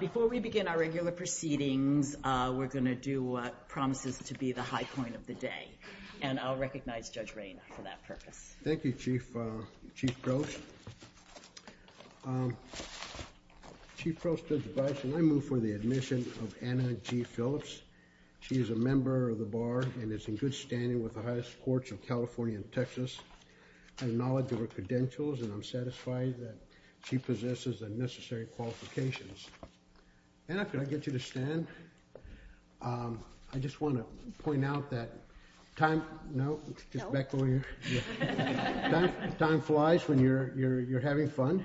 Before we begin our regular proceedings, we're going to do what promises to be the high point of the day, and I'll recognize Judge Rayna for that purpose. Thank you, Chief Proce. Chief Proce, when I move for the admission of Anna G. Phillips, she is a member of the Bar and is in good standing with the highest courts of California and Texas. I acknowledge her credentials and I'm satisfied that she possesses the necessary qualifications. Anna, can I get you to stand? I just want to point out that time flies when you're having fun.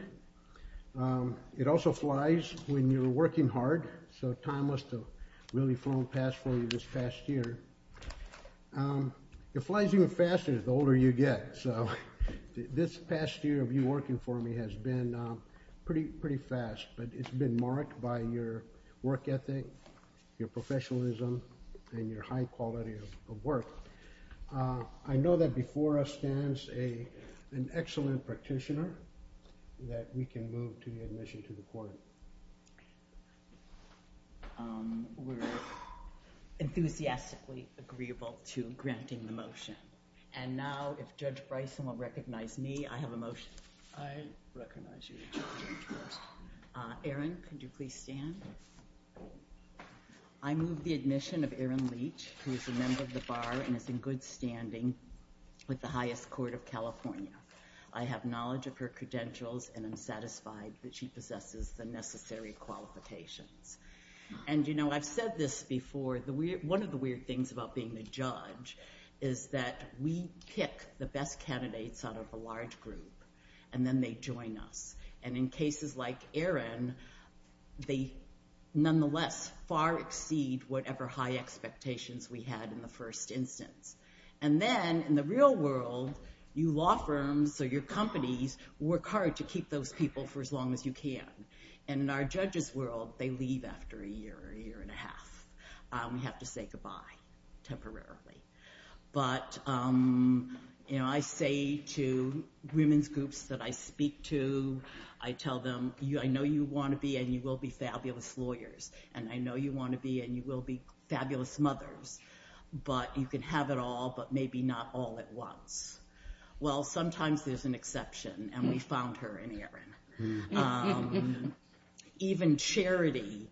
It also flies when you're working hard, so time must have really flown past for you this past year. It flies even faster the older you get, so this past year of you working for me has been pretty fast, but it's been marked by your work ethic, your professionalism, and your high quality of work. I know that before us stands an excellent practitioner that we can move to the admission to the court. We're enthusiastically agreeable to granting the motion, and now if Judge Bryson will recognize me, I have a motion. I recognize you, Judge. Aaron, can you please stand? I move the admission of Aaron Leach, who is a member of the Bar and is in good standing with the highest court of California. I have knowledge of her credentials and I'm satisfied that she possesses the necessary qualifications. I've said this before, one of the weird things about being a judge is that we pick the best candidates out of a large group, and then they join us. In cases like Aaron, they nonetheless far exceed whatever high expectations we had in the first instance. Then in the real world, you law firms or your companies work hard to keep those people for as long as you can. In our judges world, they leave after a year, a year and a half. We have to say goodbye temporarily. I say to women's groups that I speak to, I tell them, I know you want to be and you will be fabulous lawyers, and I know you want to be and you can have it all, but maybe not all at once. Sometimes there's an exception, and we found her in Aaron. Even charity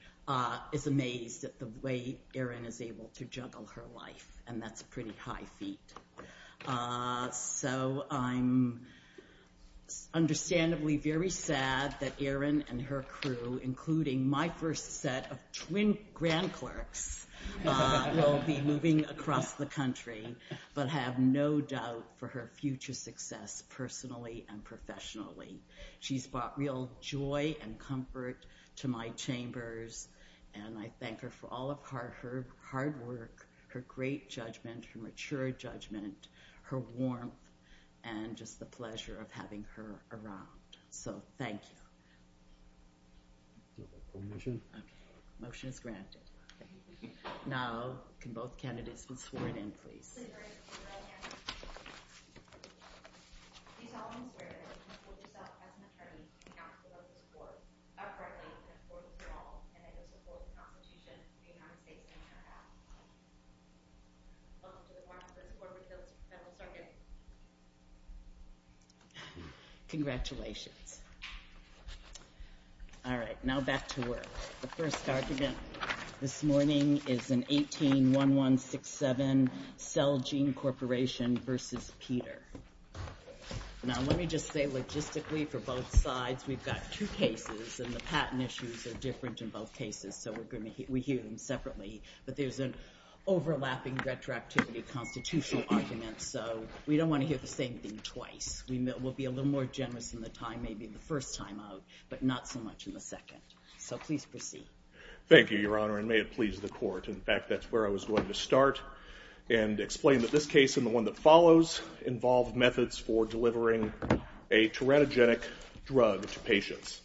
is amazed at the way Aaron is able to juggle her life, and that's a pretty high feat. I'm understandably very sad that Aaron and her crew, including my first set of twin grand clerks, will be moving across the country, but I have no doubt for her future success personally and professionally. She's brought real joy and comfort to my chambers, and I thank her for all of her hard work, her great judgment, her mature judgment, her warmth, and just the pleasure of having her around. Thank you. Okay, motion is granted. Now, can both candidates be sworn in, please? Congratulations. All right, now back to work. The first argument this morning is an 18-1167 Cell Gene Corporation versus Peter. Now, let me just say logistically for both sides, we've got two cases, and the patent issues are different in both cases, so we hear them separately, but there's an overlapping retroactivity constitutional argument, so we don't want to hear the same thing twice. We'll be a little more generous in the time, maybe the first time out, but not so much in the second. So please proceed. Thank you, Your Honor, and may it please the court. In fact, that's where I was going to go, and explain that this case and the one that follows involve methods for delivering a teratogenic drug to patients.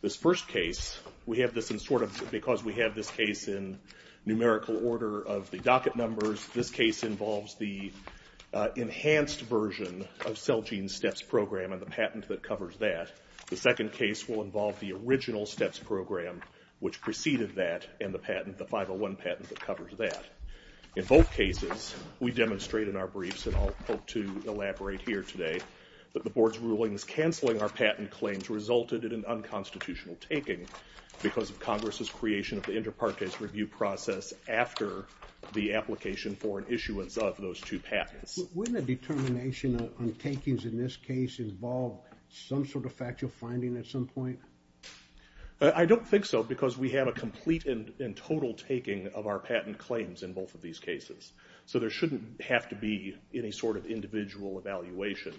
This first case, we have this in sort of, because we have this case in numerical order of the docket numbers, this case involves the enhanced version of Cell Gene Steps Program and the patent that covers that. The second case will involve the original Steps Program, which preceded that, and the patent, the 501 patent that we demonstrate in our briefs, and I'll hope to elaborate here today, that the Board's rulings canceling our patent claims resulted in an unconstitutional taking, because of Congress's creation of the inter partes review process after the application for an issuance of those two patents. Wouldn't a determination on takings in this case involve some sort of factual finding at some point? I don't think so, because we have a complete and total taking of our patent claims in both of these cases. So there shouldn't have to be any sort of individual evaluation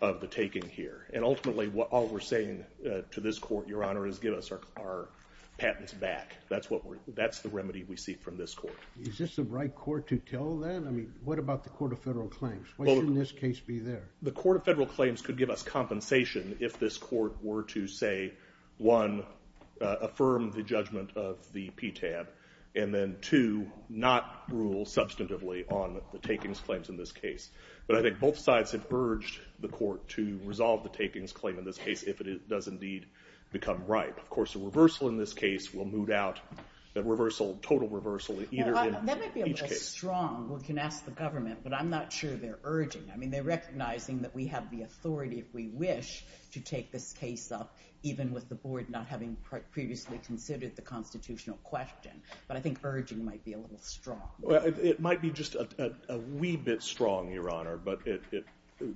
of the taking here. And ultimately, all we're saying to this Court, Your Honor, is give us our patents back. That's the remedy we seek from this Court. Is this the right Court to tell then? I mean, what about the Court of Federal Claims? Why shouldn't this case be there? The Court of Federal Claims could give us compensation if this Court were to, say, one, not rule substantively on the takings claims in this case. But I think both sides have urged the Court to resolve the takings claim in this case, if it does indeed become ripe. Of course, a reversal in this case will moot out the reversal, total reversal, either in each case. That might be a little strong. We can ask the government, but I'm not sure they're urging. I mean, they're recognizing that we have the authority, if we wish, to take this case up, even with the Board not having previously considered the constitutional question. But I think that's a little strong. It might be just a wee bit strong, Your Honor. But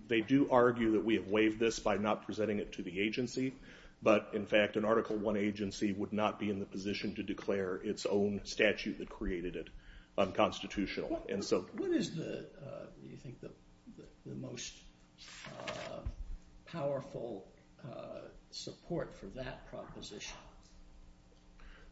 they do argue that we have waived this by not presenting it to the agency. But, in fact, an Article I agency would not be in the position to declare its own statute that created it unconstitutional. What is, do you think, the most powerful support for that proposition?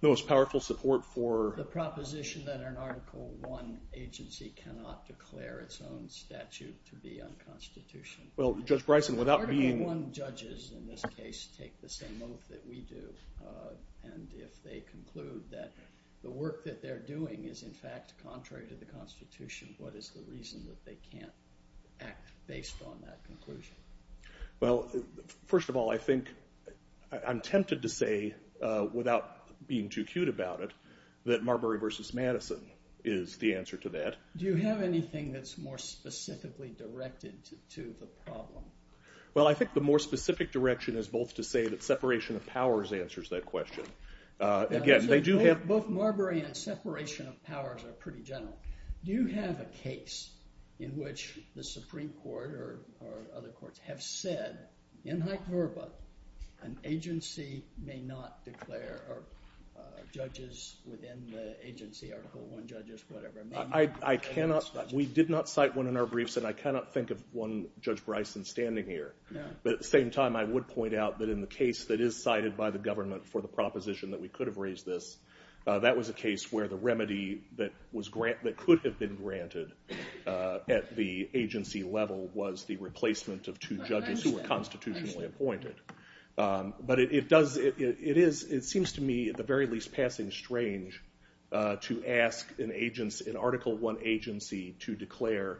The most powerful support for? The proposition that an Article I agency cannot declare its own statute to be unconstitutional. Well, Judge Bryson, without being? Article I judges, in this case, take the same oath that we do. And if they conclude that the work that they're doing is, in fact, contrary to the Constitution, what is the reason that they can't act based on that conclusion? Well, first of all, I think, I'm tempted to say, without being too cute about it, that Marbury v. Madison is the answer to that. Do you have anything that's more specifically directed to the problem? Well, I think the more specific direction is both to say that separation of powers answers that question. Again, they do have. Both Marbury and separation of powers are pretty general. Do you have a case in which the Supreme Court or other courts have said, in hyperbole, an agency may not declare, or judges within the agency, Article I judges, whatever, may not declare a statute? I cannot, we did not cite one in our briefs, and I cannot think of one Judge Bryson standing here. But at the same time, I would point out that in the case that is cited by the government for the proposition that we could have raised this, that was a case where the remedy that the agency level was the replacement of two judges who were constitutionally appointed. But it does, it is, it seems to me, at the very least, passing strange to ask an agency, an Article I agency, to declare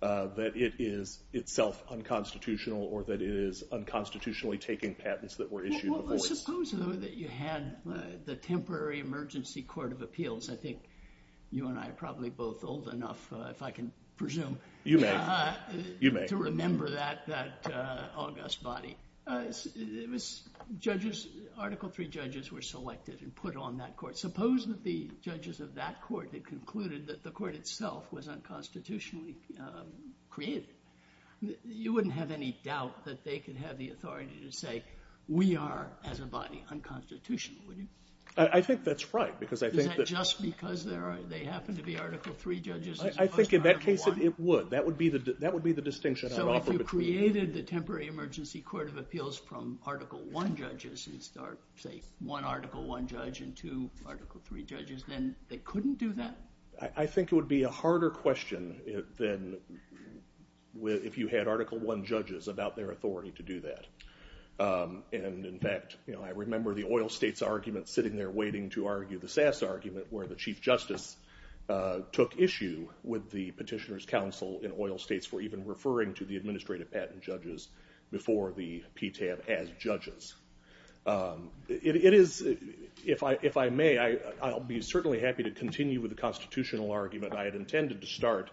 that it is itself unconstitutional, or that it is unconstitutionally taking patents that were issued before. Well, suppose, though, that you had the Temporary Emergency Court of Appeals. I think you and I are probably both old enough, if I can presume. You may, you may. To remember that august body. It was judges, Article III judges were selected and put on that court. Suppose that the judges of that court had concluded that the court itself was unconstitutionally created. You wouldn't have any doubt that they could have the authority to say, we are, as a body, unconstitutional, would you? I think that's right. Is that just because they happen to be Article III judges? I think in that case it would. That would be the distinction I would offer. So if you created the Temporary Emergency Court of Appeals from Article I judges, and start, say, one Article I judge and two Article III judges, then they couldn't do that? I think it would be a harder question than if you had Article I judges about their authority to do that. In fact, I remember the oil states argument, sitting there waiting to argue the Sass argument, where the Chief Justice took issue with the Petitioner's Council in oil states for even referring to the administrative patent judges before the PTAB as judges. It is, if I may, I'll be certainly happy to continue with the constitutional argument. I had intended to start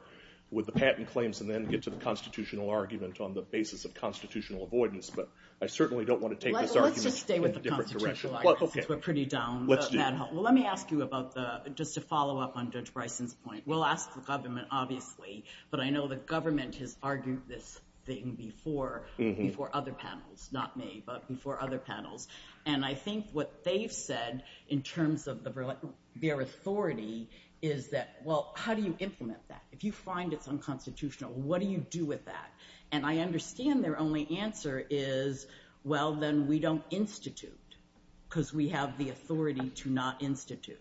with the patent claims and then get to the constitutional argument on the basis of constitutional avoidance. But I certainly don't want to take this argument in a different direction. Let's just stay with the constitutional argument. We're pretty down. Well, let me ask you about the, just to follow up on Judge Bryson's point. We'll ask the government, obviously, but I know the government has argued this thing before, before other panels, not me, but before other panels. And I think what they've said in terms of their authority is that, well, how do you implement that? If you find it's unconstitutional, what do you do with that? And I understand their only answer is, well, then we don't institute because we have the authority to not institute.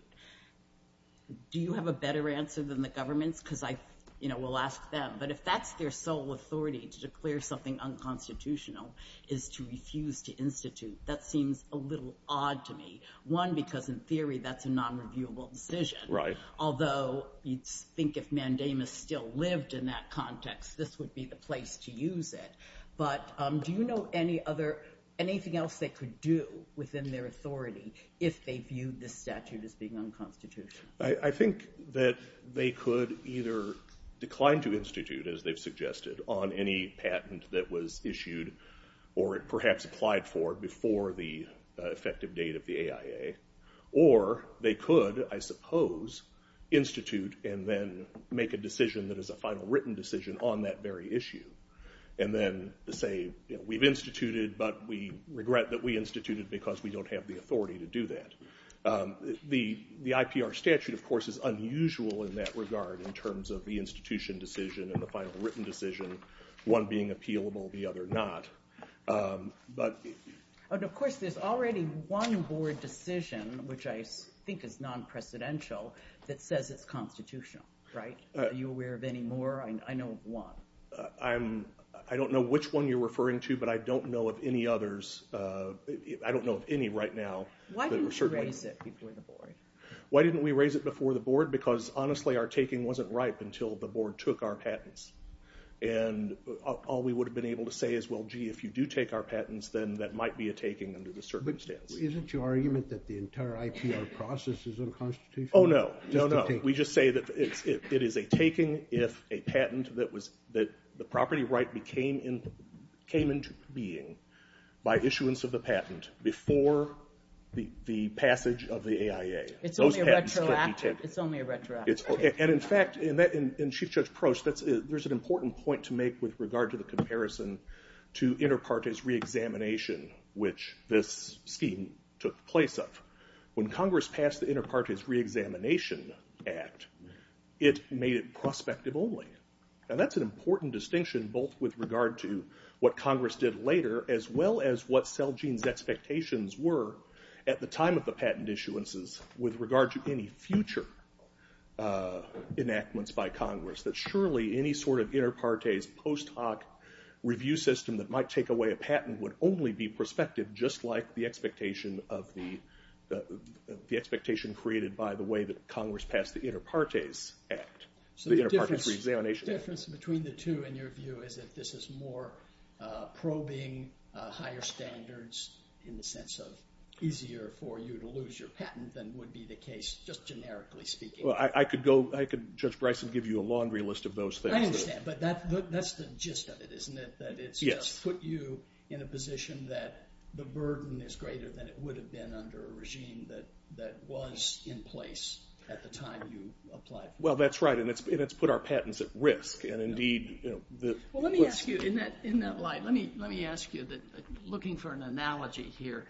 Do you have a better answer than the government's? Because I, you know, we'll ask them. But if that's their sole authority, to declare something unconstitutional, is to refuse to institute, that seems a little odd to me. One, because in theory that's a nonreviewable decision. Right. Although you'd think if Mandamus still lived in that context, this would be the place to use it. But do you know any other, anything else they could do within their authority if they viewed this statute as being unconstitutional? I think that they could either decline to institute, as they've suggested, on any patent that was issued or perhaps applied for before the effective date of the AIA. Or they could, I suppose, institute and then make a decision that is a final written decision on that very issue. And then say, we've instituted, but we regret that we instituted because we don't have the authority to do that. The IPR statute, of course, is unusual in that regard in terms of the institution decision and the final written decision, one being appealable, the other not. But of course, there's already one board decision, which I think is non-precedential, that says it's constitutional. Right? Are you aware of any more? I know of one. I don't know which one you're referring to, but I don't know of any others. I don't know of any right now. Why didn't you raise it before the board? Why didn't we raise it before the board? Because honestly, our taking wasn't ripe until the board took our patents. And all we would have been able to say is, well, gee, if you do take our patents, then that might be a taking under the circumstance. Isn't your argument that the entire IPR process is unconstitutional? Oh, no. No, no. We just say that it is a taking if a patent that the property right came into being by issuance of the patent before the passage of the AIA. It's only a retroactive taking. It's only a retroactive taking. And in fact, in Chief Judge Proch, there's an important point to make with regard to the comparison to inter partes reexamination, which this scheme took place of. When Congress passed the Inter Partes Reexamination Act, it made it prospective only. And that's an important distinction, both with regard to what Congress did later, as well as what Celgene's expectations were at the time of the patent issuances with regard to any future enactments by Congress. That surely any sort of inter partes post hoc review system that might take away a patent would only be prospective, just like the expectation created by the way that Congress passed the Inter Partes Act, the Inter Partes Reexamination Act. So the difference between the two, in your view, is that this is more probing higher standards in the sense of easier for you to lose your patent than would be the case, just generically speaking. Well, I could go, I could, Judge Bryson, give you a laundry list of those things. I understand, but that's the gist of it, isn't it? Yes. That it's just put you in a position that the burden is greater than it would have been under a regime that was in place at the time you applied for it. Well, that's right, and it's put our patents at risk, and indeed, you know, the... Well, let me ask you, in that light, let me ask you, looking for an analogy here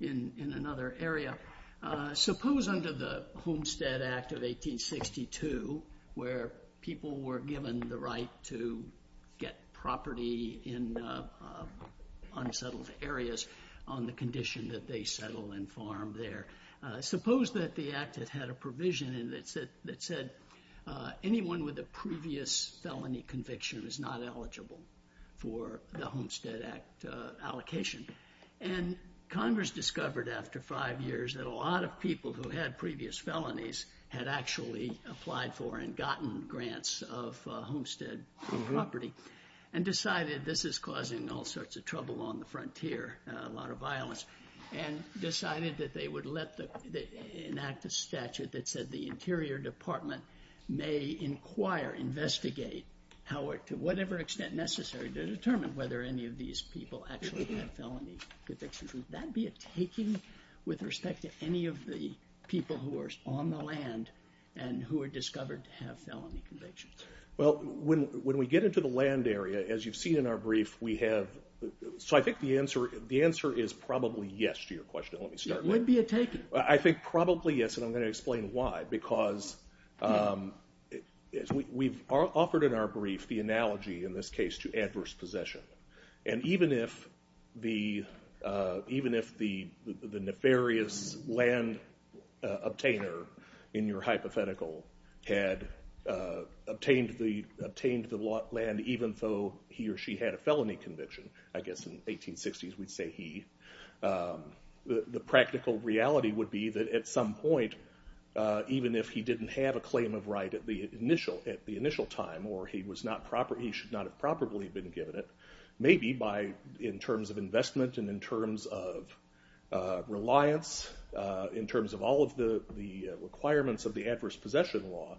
in another area, suppose under the Homestead Act of 1862, where people were given the right to get property in unsettled areas on the condition that they settle and farm there, suppose that the Act had had a provision in it that said anyone with a previous felony conviction was not eligible for the Homestead Act allocation, and Congress discovered after five years that a lot of people who had previous felonies had actually applied for and gotten grants of homestead property and decided this is causing all sorts of trouble on the frontier, a lot of violence, and decided that they would let the... enact a statute that said the Interior Department may inquire, investigate, to whatever extent necessary, to determine whether any of these people actually have felony convictions. Would that be a taking with respect to any of the people who are on the land and who are discovered to have felony convictions? Well, when we get into the land area, as you've seen in our brief, we have...so I think the answer is probably yes to your question. Let me start there. It would be a taking. I think probably yes, and I'm going to explain why, because we've offered in our brief the analogy in this case to adverse possession, and even if the nefarious land obtainer in your hypothetical had obtained the land even though he or she had a felony conviction, I guess in the 1860s we'd say he, the practical reality would be that at some point even if he didn't have a claim of right at the initial time or he should not have probably been given it, maybe in terms of investment and in terms of reliance, in terms of all of the requirements of the adverse possession law,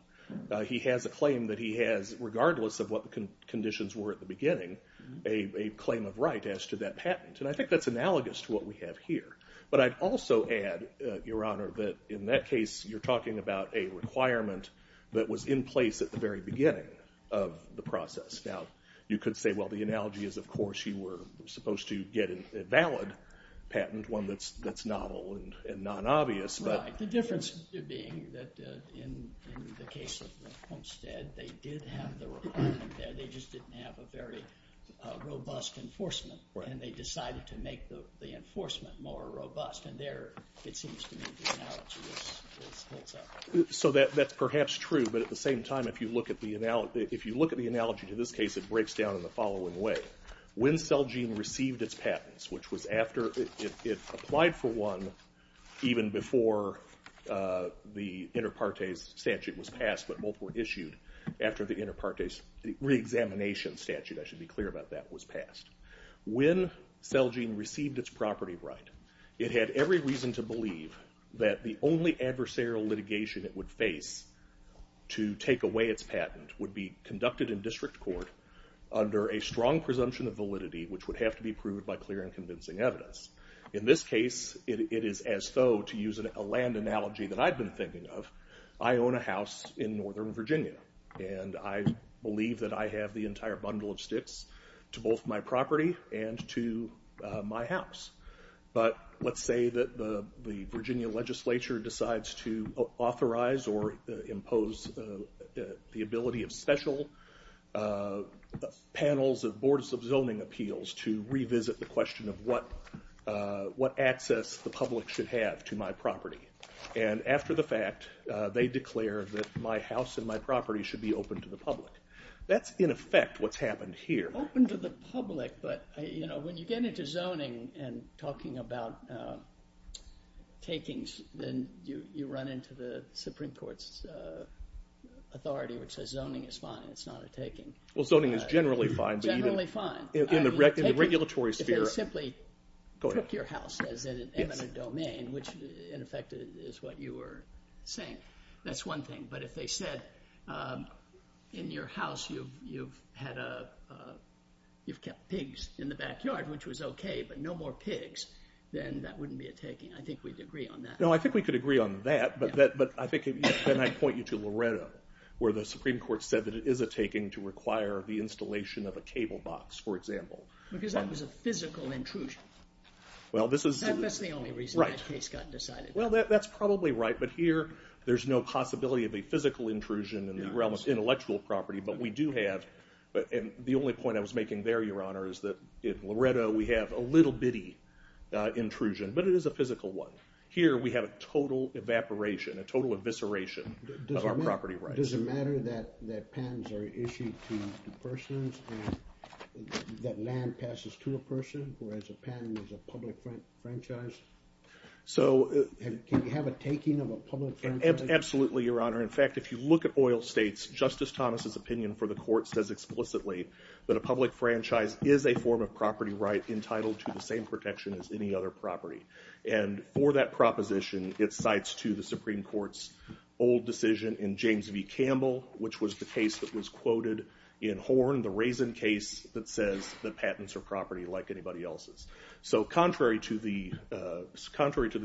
he has a claim that he has, regardless of what the conditions were at the beginning, a claim of right as to that patent. And I think that's analogous to what we have here. But I'd also add, Your Honor, that in that case you're talking about a requirement that was in place at the very beginning of the process. Now, you could say, well, the analogy is, of course, you were supposed to get a valid patent, one that's novel and non-obvious. Right. The difference being that in the case of the Homestead, they did have the requirement there. They just didn't have a very robust enforcement, and they decided to make the enforcement more robust. And there it seems to me the analogy holds up. So that's perhaps true, but at the same time, if you look at the analogy to this case, it breaks down in the following way. When Celgene received its patents, which was after it applied for one, even before the inter partes statute was passed, but both were issued after the inter partes reexamination statute, I should be clear about that, was passed. When Celgene received its property right, it had every reason to believe that the only adversarial litigation it would face to take away its patent would be conducted in district court under a strong presumption of validity, which would have to be proved by clear and convincing evidence. In this case, it is as though, to use a land analogy that I've been thinking of, I own a house in northern Virginia, and I believe that I have the entire bundle of sticks to both my property and to my house. But let's say that the Virginia legislature decides to authorize or impose the ability of special panels of boards of zoning appeals to revisit the question of what access the public should have to my property. And after the fact, they declare that my house and my property should be open to the public. That's in effect what's happened here. Open to the public, but when you get into zoning and talking about takings, then you run into the Supreme Court's authority which says zoning is fine, it's not a taking. Well, zoning is generally fine. Generally fine. In the regulatory sphere. If they simply took your house as an eminent domain, which in effect is what you were saying, that's one thing. But if they said in your house you've kept pigs in the backyard, which was okay, but no more pigs, then that wouldn't be a taking. I think we'd agree on that. No, I think we could agree on that, but then I'd point you to Loretto, where the Supreme Court said that it is a taking to require the installation of a cable box, for example. Because that was a physical intrusion. That's the only reason that case got decided. Well, that's probably right, but here there's no possibility of a physical intrusion in the realm of intellectual property, but we do have, and the only point I was making there, Your Honor, is that in Loretto we have a little bitty intrusion, but it is a physical one. Here we have a total evaporation, a total evisceration of our property rights. Does it matter that patents are issued to persons and that land passes to a person, whereas a patent is a public franchise? Can you have a taking of a public franchise? Absolutely, Your Honor. In fact, if you look at oil states, Justice Thomas's opinion for the court says explicitly that a public franchise is a form of property right entitled to the same protection as any other property. For that proposition, it cites to the Supreme Court's old decision in James v. Campbell, which was the case that was quoted in Horn, the Raisin case that says that patents are property like anybody else's. So contrary to the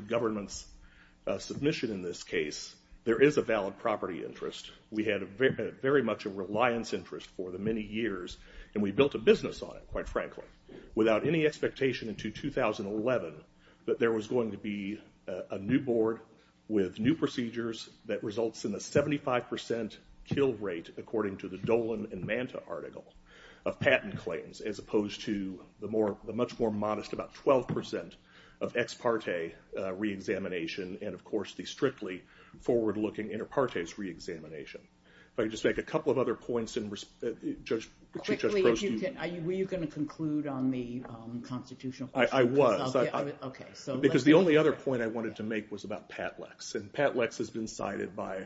government's submission in this case, there is a valid property interest. We had very much a reliance interest for the many years, and we built a business on it, quite frankly, without any expectation until 2011 that there was going to be a new board with new procedures that results in a 75% kill rate, according to the Dolan and Manta article, of patent claims, as opposed to the much more modest, about 12% of ex parte reexamination and, of course, the strictly forward-looking inter partes reexamination. If I could just make a couple of other points. Quickly, were you going to conclude on the constitutional question? I was. Okay. Because the only other point I wanted to make was about Pat Lex, and Pat Lex has been cited by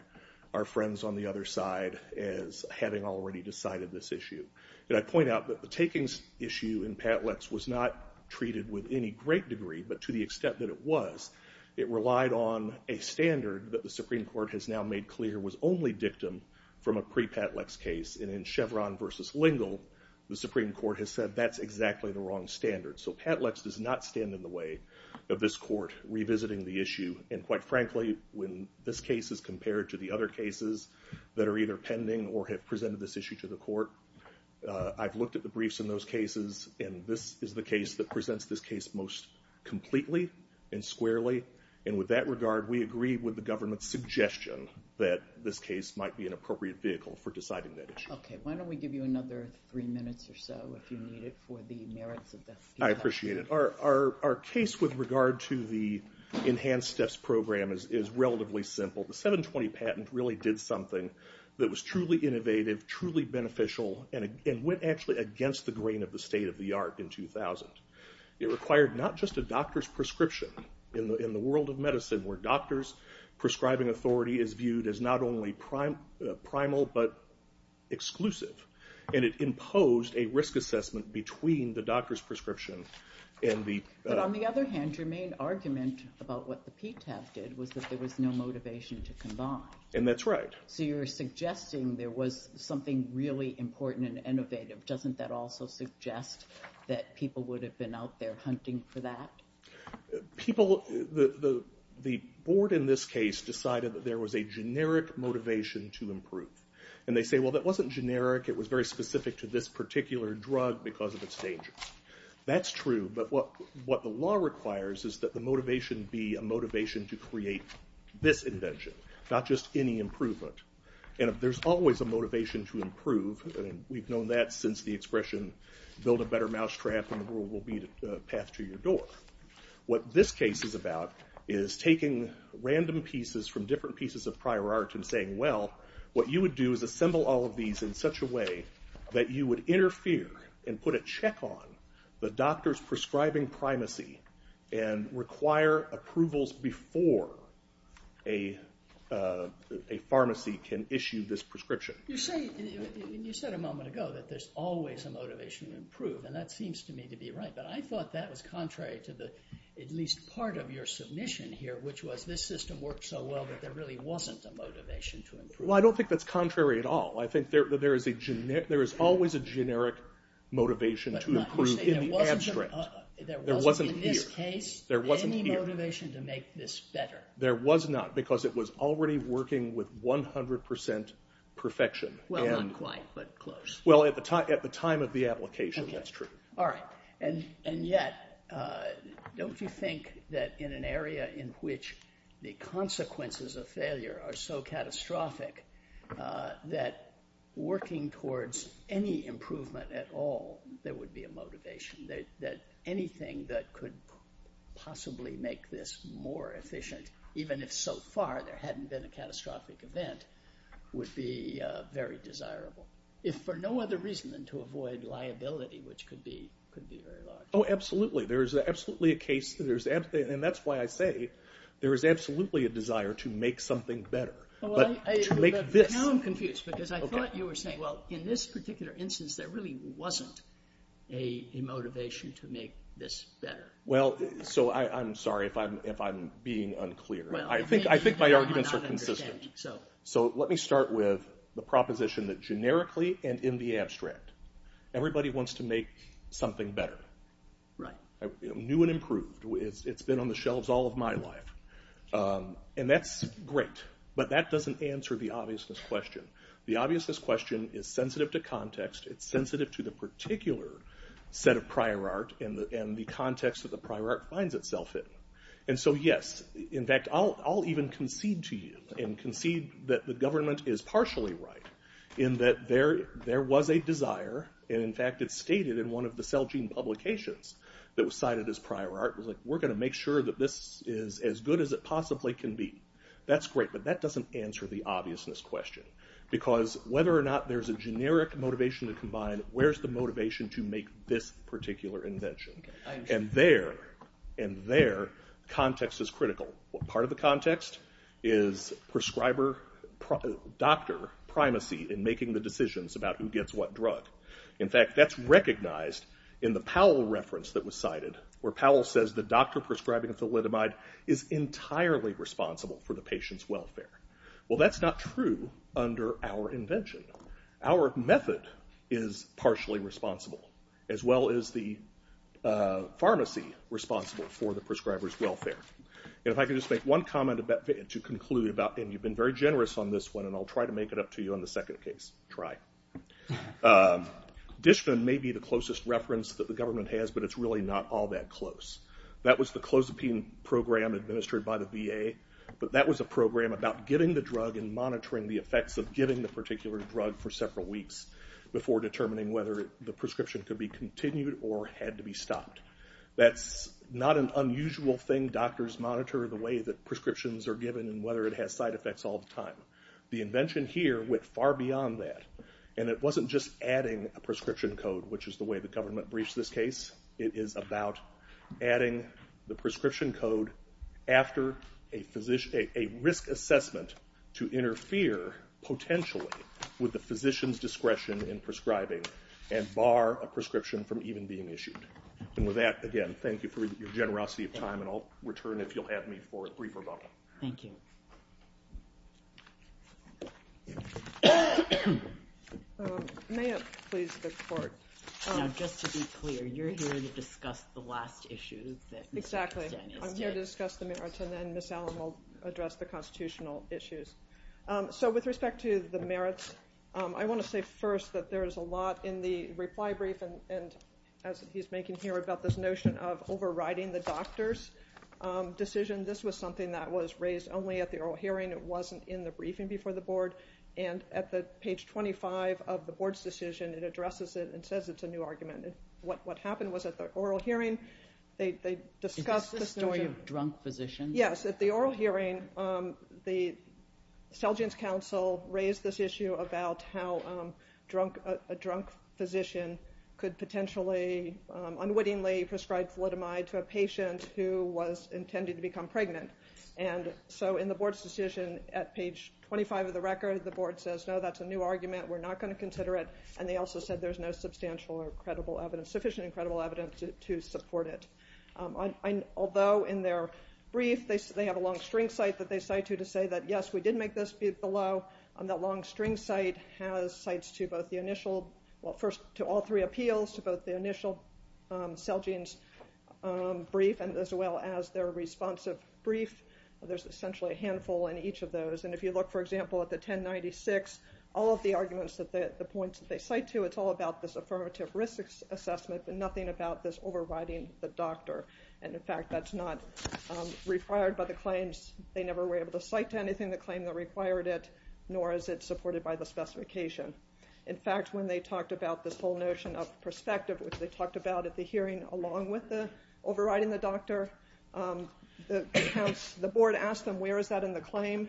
our friends on the other side as having already decided this issue. I point out that the takings issue in Pat Lex was not treated with any great degree, but to the extent that it was, it relied on a standard that the Supreme Court has now made clear was only dictum from a pre-Pat Lex case, and in Chevron versus Lingle, the Supreme Court has said that's exactly the wrong standard. So Pat Lex does not stand in the way of this court revisiting the issue, and quite frankly, when this case is compared to the other cases that are either pending or have presented this issue to the court, I've looked at the briefs in those cases, and this is the case that presents this case most completely and squarely, and with that regard, we agree with the government's suggestion that this case might be an appropriate vehicle for deciding that issue. Okay. Why don't we give you another three minutes or so, if you need it, for the merits of the discussion? I appreciate it. Our case with regard to the enhanced steps program is relatively simple. The 720 patent really did something that was truly innovative, truly beneficial, and went actually against the grain of the state of the art in 2000. It required not just a doctor's prescription, in the world of medicine where doctor's prescribing authority is viewed as not only primal but exclusive, and it imposed a risk assessment between the doctor's prescription and the... But on the other hand, your main argument about what the PTAP did was that there was no motivation to combine. And that's right. So you're suggesting there was something really important and innovative. Doesn't that also suggest that people would have been out there hunting for that? People... The board in this case decided that there was a generic motivation to improve, and they say, well, that wasn't generic. It was very specific to this particular drug because of its dangers. That's true, but what the law requires is that the motivation be a motivation to create this invention, not just any improvement. And if there's always a motivation to improve, and we've known that since the expression, build a better mousetrap and the world will be the path to your door. What this case is about is taking random pieces from different pieces of prior art and saying, well, what you would do is assemble all of these in such a way that you would interfere and put a check on the doctor's prescribing primacy and require approvals before a pharmacy can issue this prescription. You said a moment ago that there's always a motivation to improve, and that seems to me to be right, but I thought that was contrary to at least part of your submission here, which was this system works so well that there really wasn't a motivation to improve. Well, I don't think that's contrary at all. I think there is always a generic motivation to improve in the abstract. There wasn't in this case any motivation to make this better. There was not, because it was already working with 100% perfection. Well, not quite, but close. Well, at the time of the application, that's true. All right. And yet, don't you think that in an area in which the consequences of failure are so catastrophic that working towards any improvement at all, there would be a motivation, that anything that could possibly make this more efficient, even if so far there hadn't been a catastrophic event, would be very desirable, if for no other reason than to avoid liability, which could be very large? Oh, absolutely. There is absolutely a case, and that's why I say there is absolutely a desire to make something better, but to make this. Now I'm confused, because I thought you were saying, well, in this particular instance, there really wasn't a motivation to make this better. Well, so I'm sorry if I'm being unclear. I think my arguments are consistent. So let me start with the proposition that generically and in the abstract, everybody wants to make something better. Right. New and improved. It's been on the shelves all of my life, and that's great, but that doesn't answer the obviousness question. The obviousness question is sensitive to context. It's sensitive to the particular set of prior art and the context that the prior art finds itself in. And so, yes, in fact, I'll even concede to you and concede that the government is partially right in that there was a desire, and in fact it's stated in one of the Celgene publications that was cited as prior art. It was like, we're going to make sure that this is as good as it possibly can be. That's great, but that doesn't answer the obviousness question. Because whether or not there's a generic motivation to combine, where's the motivation to make this particular invention? And there, context is critical. Part of the context is prescriber-doctor primacy in making the decisions about who gets what drug. In fact, that's recognized in the Powell reference that was cited, where Powell says the doctor prescribing thalidomide is entirely responsible for the patient's welfare. Well, that's not true under our invention. Our method is partially responsible, as well as the pharmacy responsible for the prescriber's welfare. And if I could just make one comment to conclude about, and you've been very generous on this one, and I'll try to make it up to you on the second case. Try. Dishman may be the closest reference that the government has, but it's really not all that close. That was the clozapine program administered by the VA, but that was a program about getting the drug and monitoring the effects of getting the particular drug for several weeks before determining whether the prescription could be continued or had to be stopped. That's not an unusual thing. Doctors monitor the way that prescriptions are given and whether it has side effects all the time. The invention here went far beyond that, and it wasn't just adding a prescription code, which is the way the government briefs this case. It is about adding the prescription code after a risk assessment to interfere potentially with the physician's discretion in prescribing and bar a prescription from even being issued. And with that, again, thank you for your generosity of time, and I'll return if you'll have me for a brief rebuttal. Thank you. May it please the Court? Now, just to be clear, you're here to discuss the last issue that Mr. Kirsten is here. Exactly. I'm here to discuss the merits, and then Ms. Allen will address the constitutional issues. So with respect to the merits, I want to say first that there is a lot in the reply brief, and as he's making here about this notion of overriding the doctor's decision, this was something that was raised only at the oral hearing. It wasn't in the briefing before the Board. And at page 25 of the Board's decision, it addresses it and says it's a new argument. What happened was at the oral hearing, they discussed this notion. Is this the story of drunk physicians? Yes. At the oral hearing, the Seligens Council raised this issue about how a drunk physician could potentially unwittingly prescribe thalidomide to a patient who was intending to become pregnant. And so in the Board's decision at page 25 of the record, the Board says, no, that's a new argument, we're not going to consider it, and they also said there's no substantial or sufficient and credible evidence to support it. Although in their brief they have a long string cite that they cite you to say that, yes, we did make this below, that long string cite has cites to both the initial, well, first to all three appeals, to both the initial Seligens brief as well as their responsive brief. There's essentially a handful in each of those. And if you look, for example, at the 1096, all of the arguments, the points that they cite to, it's all about this affirmative risk assessment, but nothing about this overriding the doctor. And, in fact, that's not required by the claims. They never were able to cite to anything the claim that required it, nor is it supported by the specification. In fact, when they talked about this whole notion of perspective, which they talked about at the hearing along with the overriding the doctor, the board asked them where is that in the claim,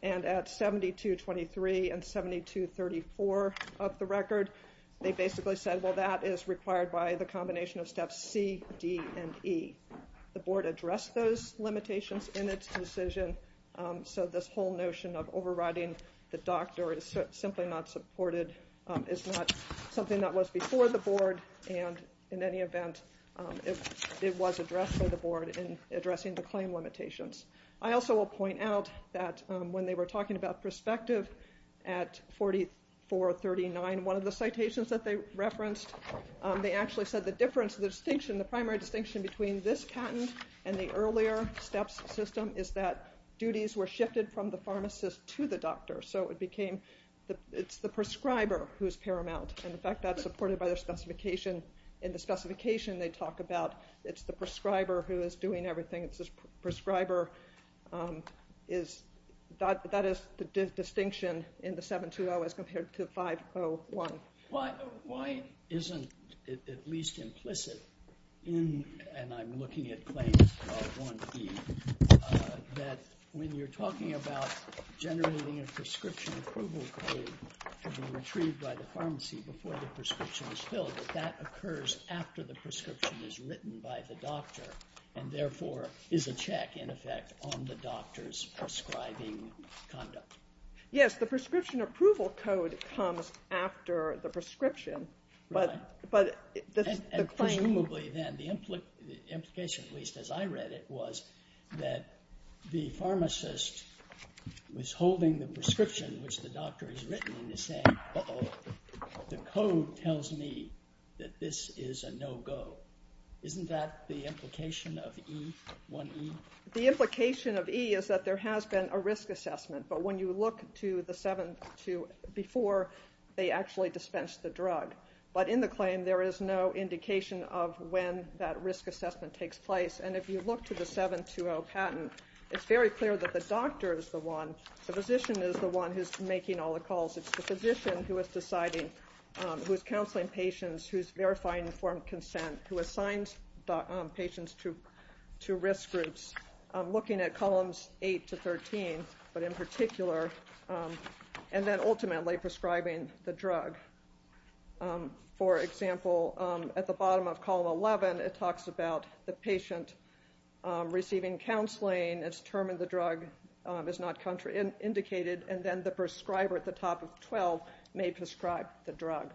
and at 7223 and 7234 of the record they basically said, well, that is required by the combination of steps C, D, and E. The board addressed those limitations in its decision, so this whole notion of overriding the doctor is simply not supported, is not something that was before the board, and in any event it was addressed by the board in addressing the claim limitations. I also will point out that when they were talking about perspective at 4439, one of the citations that they referenced, they actually said the difference, the distinction, the primary distinction between this patent and the earlier steps system is that duties were shifted from the pharmacist to the doctor. So it became it's the prescriber who's paramount, and in fact that's supported by their specification. In the specification they talk about it's the prescriber who is doing everything. It's the prescriber is, that is the distinction in the 720 as compared to 501. Why isn't it at least implicit in, and I'm looking at claims of 1E, that when you're talking about generating a prescription approval code to be retrieved by the pharmacy before the prescription is filled, that that occurs after the prescription is written by the doctor and therefore is a check in effect on the doctor's prescribing conduct? Yes, the prescription approval code comes after the prescription, but the claim. Presumably then the implication, at least as I read it, was that the pharmacist was holding the prescription which the doctor has written and is saying, uh-oh, the code tells me that this is a no-go. Isn't that the implication of 1E? The implication of E is that there has been a risk assessment, but when you look to the 720 before, they actually dispensed the drug. But in the claim, there is no indication of when that risk assessment takes place. And if you look to the 720 patent, it's very clear that the doctor is the one, the physician is the one who's making all the calls. It's the physician who is deciding, who is counseling patients, who is verifying informed consent, who assigns patients to risk groups, looking at columns 8 to 13, but in particular, and then ultimately prescribing the drug. For example, at the bottom of column 11, it talks about the patient receiving counseling. It's determined the drug is not indicated, and then the prescriber at the top of 12 may prescribe the drug.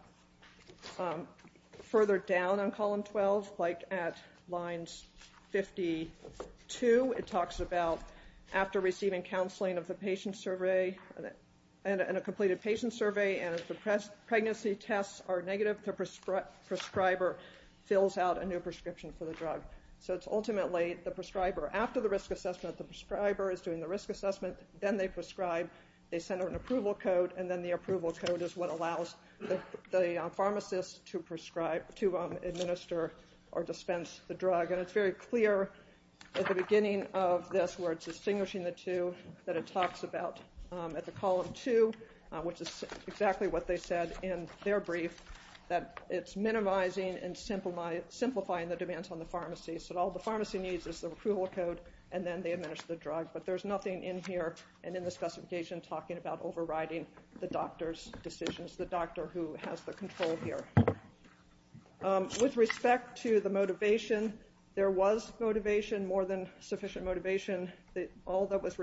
Further down on column 12, like at lines 52, it talks about after receiving counseling of the patient survey, and a completed patient survey, and if the pregnancy tests are negative, the prescriber fills out a new prescription for the drug. So it's ultimately the prescriber. After the risk assessment, the prescriber is doing the risk assessment. Then they prescribe. They send out an approval code, and then the approval code is what allows the pharmacist to administer or dispense the drug. And it's very clear at the beginning of this where it's distinguishing the two that it talks about. At the column 2, which is exactly what they said in their brief, that it's minimizing and simplifying the demands on the pharmacy. So all the pharmacy needs is the approval code, and then they administer the drug. But there's nothing in here and in the specification talking about overriding the doctor's decisions, the doctor who has the control here. With respect to the motivation, there was motivation, more than sufficient motivation. All that was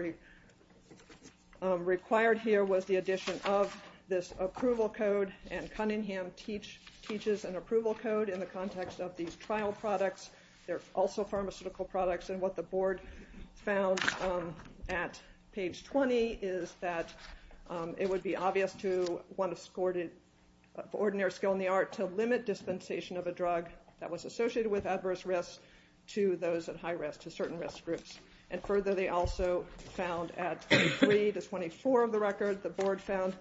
required here was the addition of this approval code, and Cunningham teaches an approval code in the context of these trial products. They're also pharmaceutical products, and what the board found at page 20 is that it would be obvious to one of ordinary skill in the art to limit dispensation of a drug that was associated with adverse risk to those at high risk, to certain risk groups. And further, they also found at 23 to 24 of the record, the board found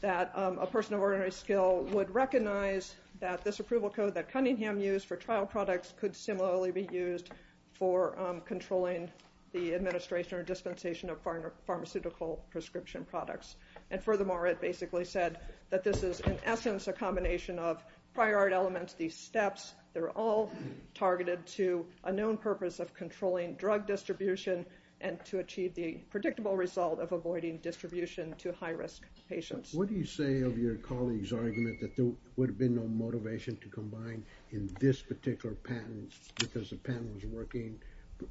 that a person of ordinary skill would recognize that this approval code that Cunningham used for trial products could similarly be used for controlling the administration or dispensation of pharmaceutical prescription products. And furthermore, it basically said that this is, in essence, a combination of prior art elements, these steps. They're all targeted to a known purpose of controlling drug distribution and to achieve the predictable result of avoiding distribution to high-risk patients. What do you say of your colleague's argument that there would have been no motivation to combine in this particular patent because the patent was working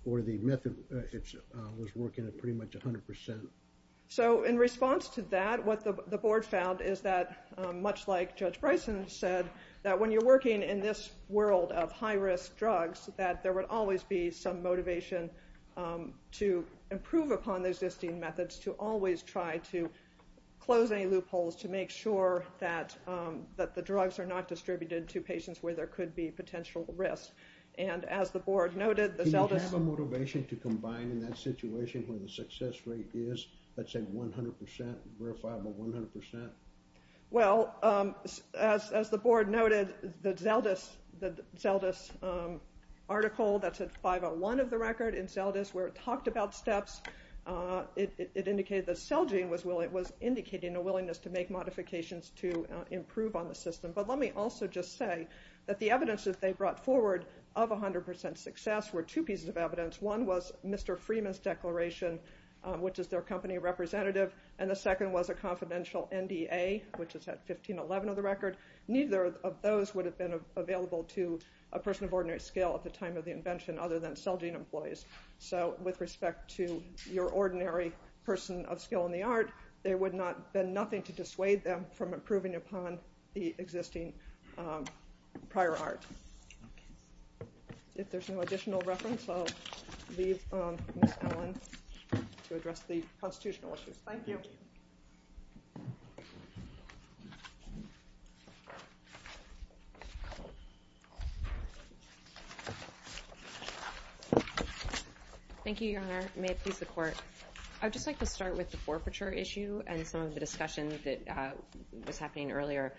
or the method was working at pretty much 100%? So in response to that, what the board found is that, much like Judge Bryson said, that when you're working in this world of high-risk drugs, that there would always be some motivation to improve upon the existing methods, to always try to close any loopholes, to make sure that the drugs are not distributed to patients where there could be potential risk. Do you have a motivation to combine in that situation where the success rate is, let's say, 100%, verifiable 100%? Well, as the board noted, the Zeldas article, that's at 501 of the record in Zeldas, where it talked about steps, it indicated that Celgene was indicating a willingness to make modifications to improve on the system. But let me also just say that the evidence that they brought forward of 100% success were two pieces of evidence. One was Mr. Freeman's declaration, which is their company representative, and the second was a confidential NDA, which is at 1511 of the record. Neither of those would have been available to a person of ordinary skill at the time of the invention other than Celgene employees. So with respect to your ordinary person of skill in the art, there would have been nothing to dissuade them from improving upon the existing prior art. If there's no additional reference, I'll leave Ms. Allen to address the constitutional issues. Thank you. Thank you, Your Honor. May it please the Court. I'd just like to start with the forfeiture issue and some of the discussion that was happening earlier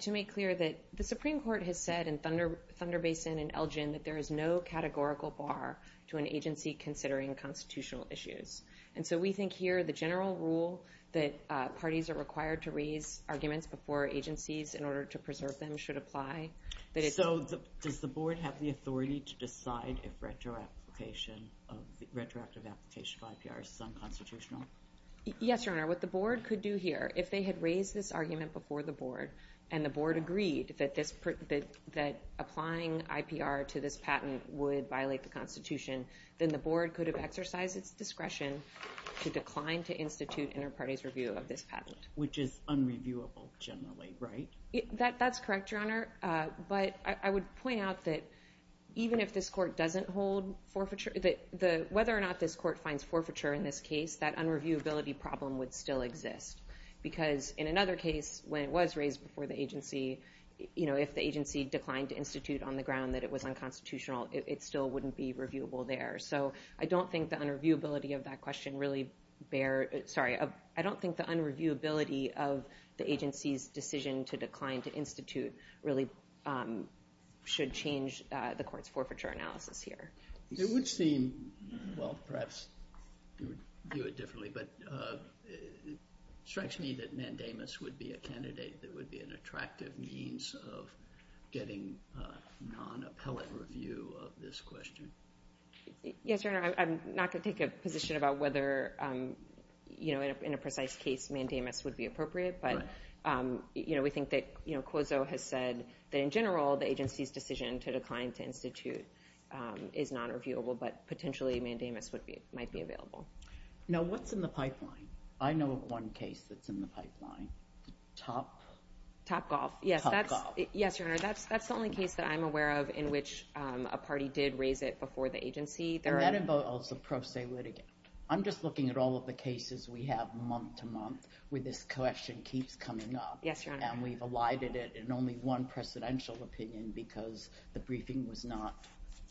to make clear that the Supreme Court has said in Thunder Basin and Elgin that there is no categorical bar to an agency considering constitutional issues. And so we think here the general rule that parties are required to raise arguments before agencies in order to preserve them should apply. So does the Board have the authority to decide if retroactive application of IPR is unconstitutional? Yes, Your Honor. What the Board could do here, if they had raised this argument before the Board and the Board agreed that applying IPR to this patent would violate the Constitution, then the Board could have exercised its discretion to decline to institute inter-parties review of this patent. Which is unreviewable generally, right? That's correct, Your Honor. But I would point out that even if this Court doesn't hold forfeiture, whether or not this Court finds forfeiture in this case, that unreviewability problem would still exist. Because in another case, when it was raised before the agency, if the agency declined to institute on the ground that it was unconstitutional, it still wouldn't be reviewable there. So I don't think the unreviewability of that question really bears – sorry, I don't think the unreviewability of the agency's decision to decline to institute really should change the Court's forfeiture analysis here. It would seem – well, perhaps you would view it differently, but it strikes me that mandamus would be a candidate that would be an attractive means of getting non-appellate review of this question. Yes, Your Honor. I'm not going to take a position about whether in a precise case mandamus would be appropriate, but we think that COSO has said that in general the agency's decision to decline to institute is non-reviewable, but potentially mandamus might be available. Now, what's in the pipeline? I know of one case that's in the pipeline. Top – Topgolf. Topgolf. Yes, Your Honor. That's the only case that I'm aware of in which a party did raise it before the agency. And that involves a pro se litigant. I'm just looking at all of the cases we have month to month where this question keeps coming up. Yes, Your Honor. And we've elided it in only one presidential opinion because the briefing was not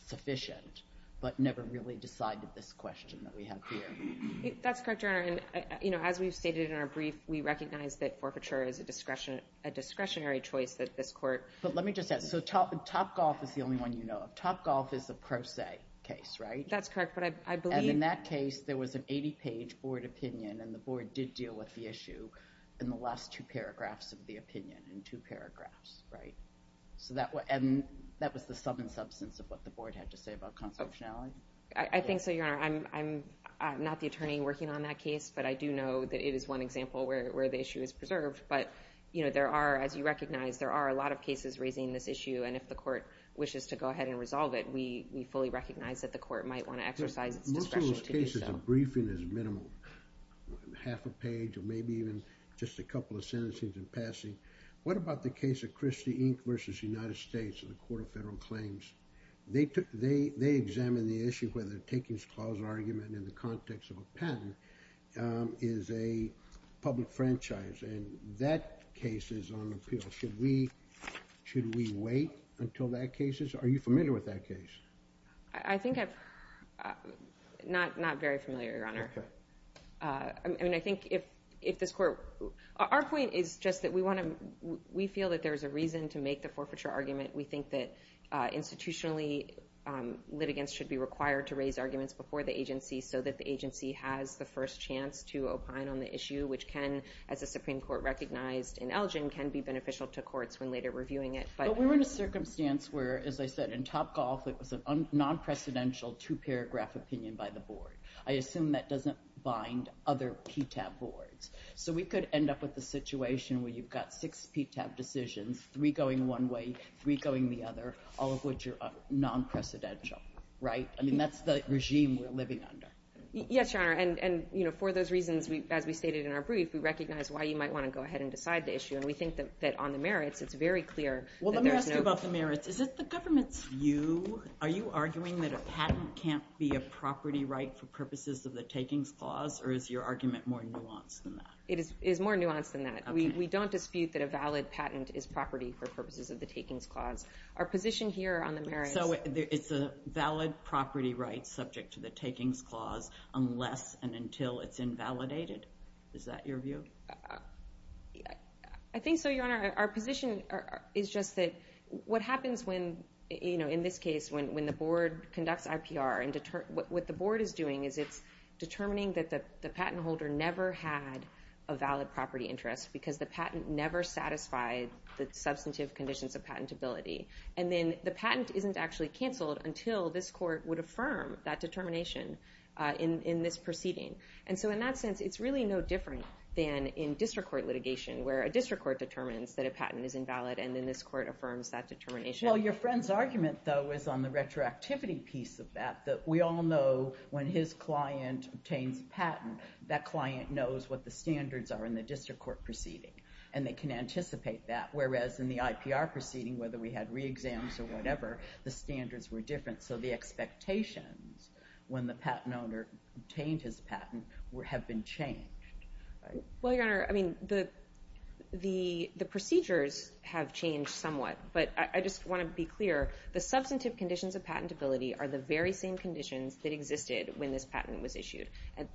sufficient but never really decided this question that we have here. That's correct, Your Honor. And, you know, as we've stated in our brief, we recognize that forfeiture is a discretionary choice that this court – But let me just add. So Topgolf is the only one you know of. Topgolf is a pro se case, right? That's correct, but I believe – And in that case, there was an 80-page board opinion, and the board did deal with the issue in the last two paragraphs of the opinion, in two paragraphs, right? And that was the sum and substance of what the board had to say about constitutionality? I think so, Your Honor. I'm not the attorney working on that case, but I do know that it is one example where the issue is preserved. But, you know, there are, as you recognize, there are a lot of cases raising this issue, and if the court wishes to go ahead and resolve it, we fully recognize that the court might want to exercise its discretion to do so. Most of those cases, the briefing is minimal, half a page, or maybe even just a couple of sentencings in passing. What about the case of Christie, Inc. v. United States in the Court of Federal Claims? They examined the issue where the takings clause argument in the context of a patent is a public franchise, and that case is on appeal. Should we wait until that case is? Are you familiar with that case? I think I'm not very familiar, Your Honor. Okay. I mean, I think if this court – Our point is just that we want to – we feel that there's a reason to make the forfeiture argument. We think that institutionally litigants should be required to raise arguments before the agency so that the agency has the first chance to opine on the issue, which can, as the Supreme Court recognized in Elgin, can be beneficial to courts when later reviewing it. But we're in a circumstance where, as I said, in Topgolf, it was a non-precedential two-paragraph opinion by the board. I assume that doesn't bind other PTAB boards. So we could end up with a situation where you've got six PTAB decisions, three going one way, three going the other, all of which are non-precedential, right? I mean, that's the regime we're living under. Yes, Your Honor, and for those reasons, as we stated in our brief, we recognize why you might want to go ahead and decide the issue, and we think that on the merits it's very clear that there's no – Well, let me ask you about the merits. Is it the government's view? Are you arguing that a patent can't be a property right for purposes of the takings clause, or is your argument more nuanced than that? It is more nuanced than that. Okay. We don't dispute that a valid patent is property for purposes of the takings clause. Our position here on the merits – So it's a valid property right subject to the takings clause unless and until it's invalidated? Is that your view? I think so, Your Honor. Our position is just that what happens when, in this case, when the board conducts IPR, what the board is doing is it's determining that the patent holder never had a valid property interest because the patent never satisfied the substantive conditions of patentability. And then the patent isn't actually canceled until this court would affirm that determination in this proceeding. And so in that sense, it's really no different than in district court litigation, where a district court determines that a patent is invalid, and then this court affirms that determination. Well, your friend's argument, though, is on the retroactivity piece of that, that client knows what the standards are in the district court proceeding, and they can anticipate that, whereas in the IPR proceeding, whether we had re-exams or whatever, the standards were different. So the expectations when the patent owner obtained his patent have been changed. Well, Your Honor, I mean, the procedures have changed somewhat, but I just want to be clear. The substantive conditions of patentability are the very same conditions that existed when this patent was issued.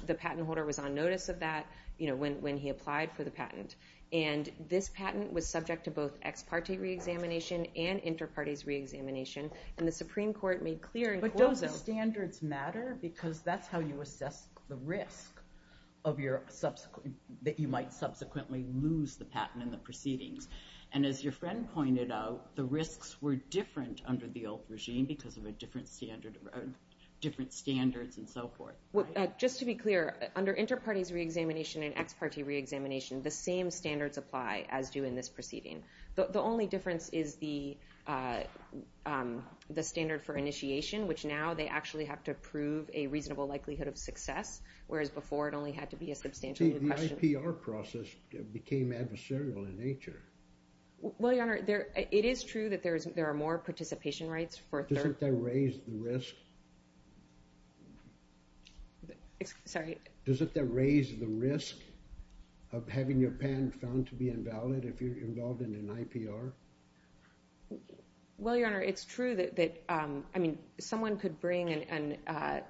The patent holder was on notice of that when he applied for the patent. And this patent was subject to both ex parte re-examination and inter-partes re-examination, and the Supreme Court made clear in court zone- But don't the standards matter? Because that's how you assess the risk that you might subsequently lose the patent in the proceedings. And as your friend pointed out, the risks were different under the old regime because of different standards and so forth. Just to be clear, under inter-partes re-examination and ex parte re-examination, the same standards apply as do in this proceeding. The only difference is the standard for initiation, which now they actually have to prove a reasonable likelihood of success, whereas before it only had to be a substantial- The IPR process became adversarial in nature. Well, Your Honor, it is true that there are more participation rights for- Doesn't that raise the risk? Sorry? Doesn't that raise the risk of having your patent found to be invalid if you're involved in an IPR? Well, Your Honor, it's true that- I mean, someone could bring an-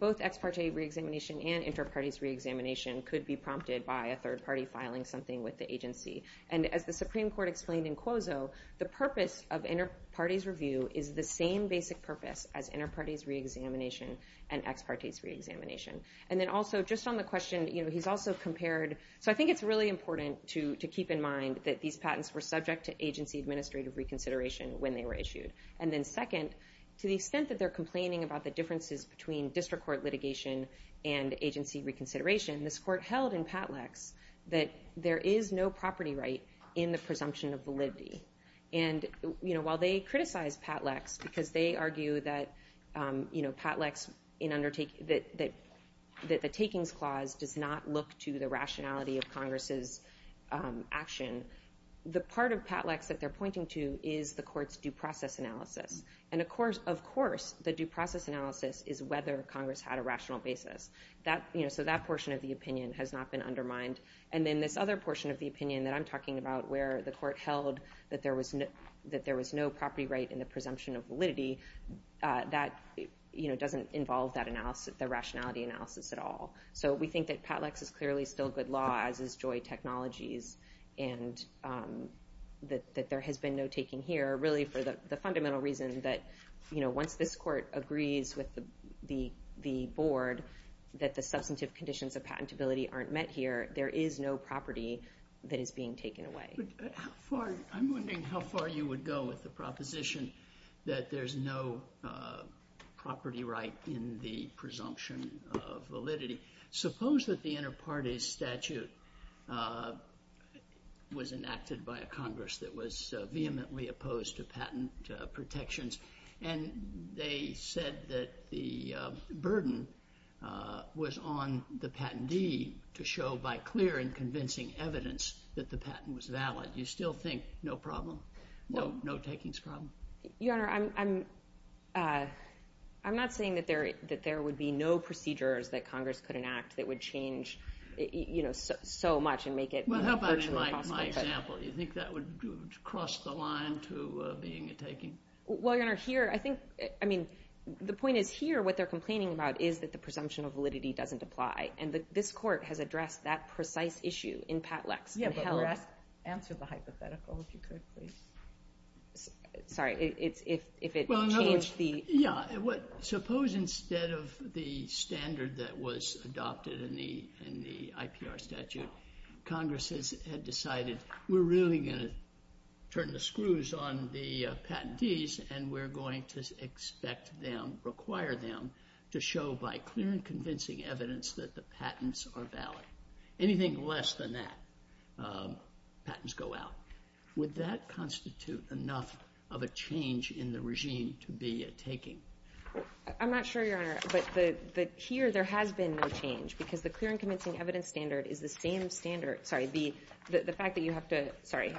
Both ex parte re-examination and inter-partes re-examination could be prompted by a third party filing something with the agency. And as the Supreme Court explained in Quozo, the purpose of inter-partes review is the same basic purpose as inter-partes re-examination and ex-partes re-examination. And then also, just on the question, he's also compared- So I think it's really important to keep in mind that these patents were subject to agency administrative reconsideration when they were issued. And then second, to the extent that they're complaining about the differences between district court litigation and agency reconsideration, this court held in Patleks that there is no property right in the presumption of validity. And while they criticize Patleks because they argue that Patleks in undertaking- that the takings clause does not look to the rationality of Congress's action, the part of Patleks that they're pointing to is the court's due process analysis. And of course, the due process analysis is whether Congress had a rational basis. So that portion of the opinion has not been undermined. And then this other portion of the opinion that I'm talking about, where the court held that there was no property right in the presumption of validity, that doesn't involve the rationality analysis at all. So we think that Patleks is clearly still good law, as is Joy Technologies, and that there has been no taking here, really for the fundamental reason that once this court agrees with the board, that the substantive conditions of patentability aren't met here, there is no property that is being taken away. I'm wondering how far you would go with the proposition that there's no property right in the presumption of validity. Suppose that the inter partes statute was enacted by a Congress that was vehemently opposed to patent protections, and they said that the burden was on the patentee to show by clear and convincing evidence that the patent was valid. You still think no problem? No takings problem? Your Honor, I'm not saying that there would be no procedures that Congress could enact that would change so much and make it virtually impossible. Well, how about in my example? You think that would cross the line to being a taking? Well, Your Honor, here, I think, I mean, the point is here what they're complaining about is that the presumption of validity doesn't apply. And this court has addressed that precise issue in Patleks. Answer the hypothetical, if you could, please. Sorry, if it changed the... Yeah, suppose instead of the standard that was adopted in the IPR statute, Congress had decided we're really going to turn the screws on the patentees, and we're going to expect them, require them to show by clear and convincing evidence that the patents are valid. Anything less than that, patents go out. Would that constitute enough of a change in the regime to be a taking? I'm not sure, Your Honor, but here there has been no change, because the clear and convincing evidence standard is the same standard. Sorry, the fact that you have to... Sorry.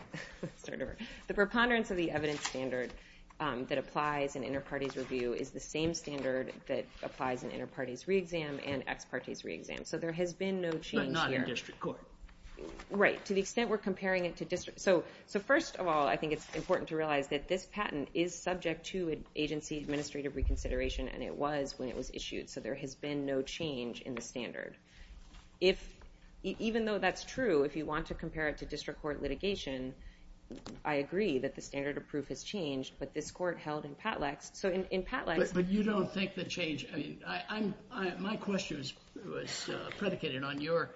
The preponderance of the evidence standard that applies in inter-parties review is the same standard that applies in inter-parties re-exam and ex-parties re-exam. So there has been no change here. But not in district court. Right, to the extent we're comparing it to district. So first of all, I think it's important to realize that this patent is subject to agency administrative reconsideration, and it was when it was issued, so there has been no change in the standard. Even though that's true, if you want to compare it to district court litigation, I agree that the standard of proof has changed, but this court held in Patlex... But you don't think the change... My question was predicated on your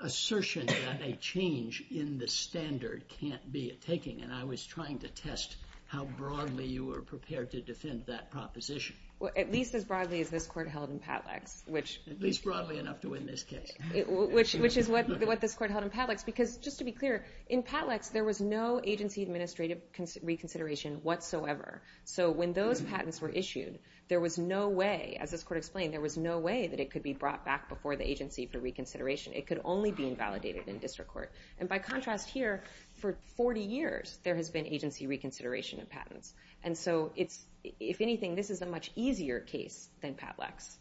assertion that a change in the standard can't be a taking, and I was trying to test how broadly you were prepared to defend that proposition. Well, at least as broadly as this court held in Patlex, which... At least broadly enough to win this case. Which is what this court held in Patlex, because just to be clear, in Patlex there was no agency administrative reconsideration whatsoever. So when those patents were issued, there was no way, as this court explained, there was no way that it could be brought back before the agency for reconsideration. It could only be invalidated in district court. And by contrast here, for 40 years there has been agency reconsideration of patents. And so, if anything, this is a much easier case than Patlex.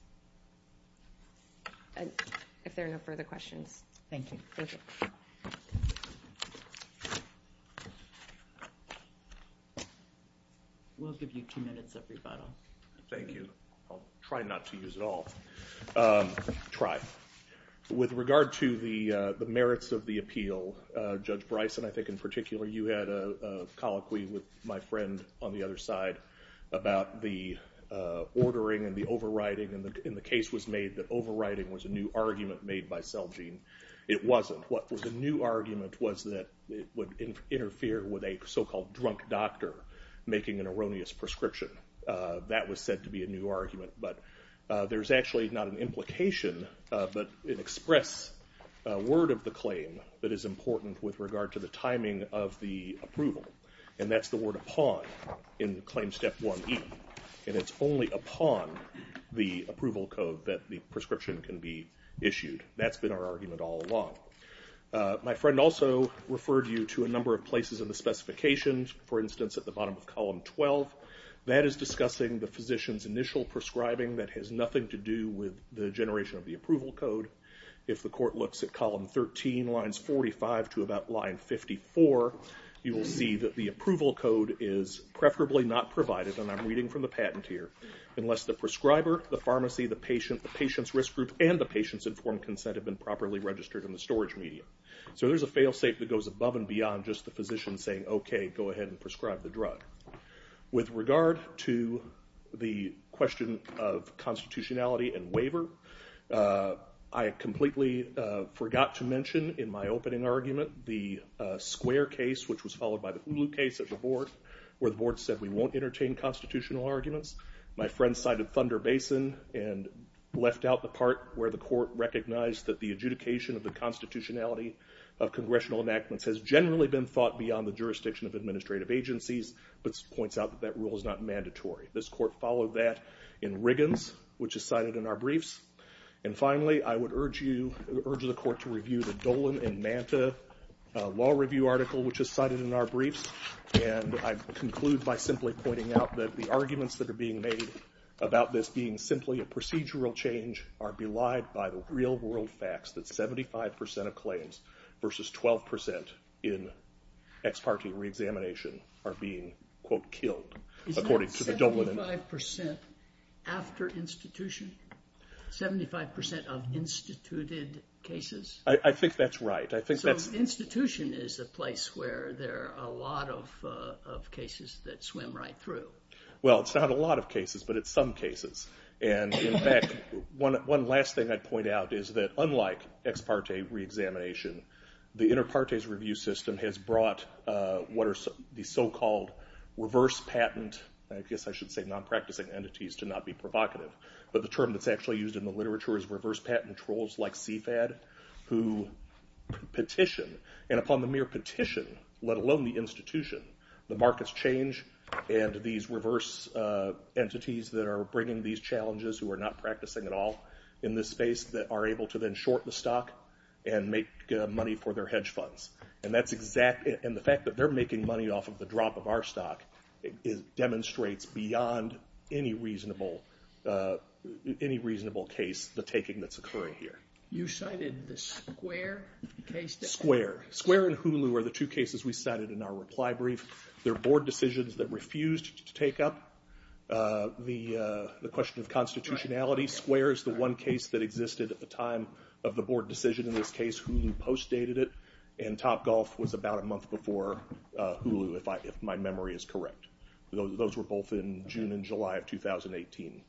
If there are no further questions. Thank you. Thank you. We'll give you two minutes of rebuttal. Thank you. I'll try not to use it all. Try. With regard to the merits of the appeal, Judge Bryson, I think in particular, you had a colloquy with my friend on the other side about the ordering and the overriding. And the case was made that overriding was a new argument made by Selgene. It wasn't. What was a new argument was that it would interfere with a so-called drunk doctor making an erroneous prescription. That was said to be a new argument. But there's actually not an implication, but an express word of the claim that is important with regard to the timing of the approval. And that's the word upon in claim step 1E. And it's only upon the approval code that the prescription can be issued. That's been our argument all along. My friend also referred you to a number of places in the specifications, for instance at the bottom of column 12. That is discussing the physician's initial prescribing that has nothing to do with the generation of the approval code. If the court looks at column 13, lines 45 to about line 54, you will see that the approval code is preferably not provided, and I'm reading from the patent here, unless the prescriber, the pharmacy, the patient, the patient's risk group, and the patient's informed consent have been properly registered in the storage medium. So there's a fail-safe that goes above and beyond just the physician saying, OK, go ahead and prescribe the drug. With regard to the question of constitutionality and waiver, I completely forgot to mention in my opening argument the Square case, which was followed by the Hulu case at the board, where the board said we won't entertain constitutional arguments. My friend cited Thunder Basin and left out the part where the court recognized that the adjudication of the constitutionality of congressional enactments has generally been thought beyond the jurisdiction of administrative agencies, but points out that that rule is not mandatory. This court followed that in Riggins, which is cited in our briefs. And finally, I would urge the court to review the Dolan and Manta Law Review article, which is cited in our briefs, and I conclude by simply pointing out that the arguments that are being made about this being simply a procedural change are belied by the real-world facts that 75 percent of claims versus 12 percent in ex parte reexamination are being, quote, killed. Is that 75 percent after institution? 75 percent of instituted cases? I think that's right. So institution is a place where there are a lot of cases that swim right through. Well, it's not a lot of cases, but it's some cases. And, in fact, one last thing I'd point out is that unlike ex parte reexamination, the inter partes review system has brought what are the so-called reverse patent, I guess I should say non-practicing entities to not be provocative, but the term that's actually used in the literature is reverse patent trolls like CFAD who petition, and upon the mere petition, let alone the institution, the markets change and these reverse entities that are bringing these challenges who are not practicing at all in this space that are able to then short the stock and make money for their hedge funds. And the fact that they're making money off of the drop of our stock demonstrates beyond any reasonable case the taking that's occurring here. You cited the Square case? They're board decisions that refused to take up the question of constitutionality. Square is the one case that existed at the time of the board decision in this case. Hulu post-dated it, and Topgolf was about a month before Hulu, if my memory is correct. Those were both in June and July of 2018.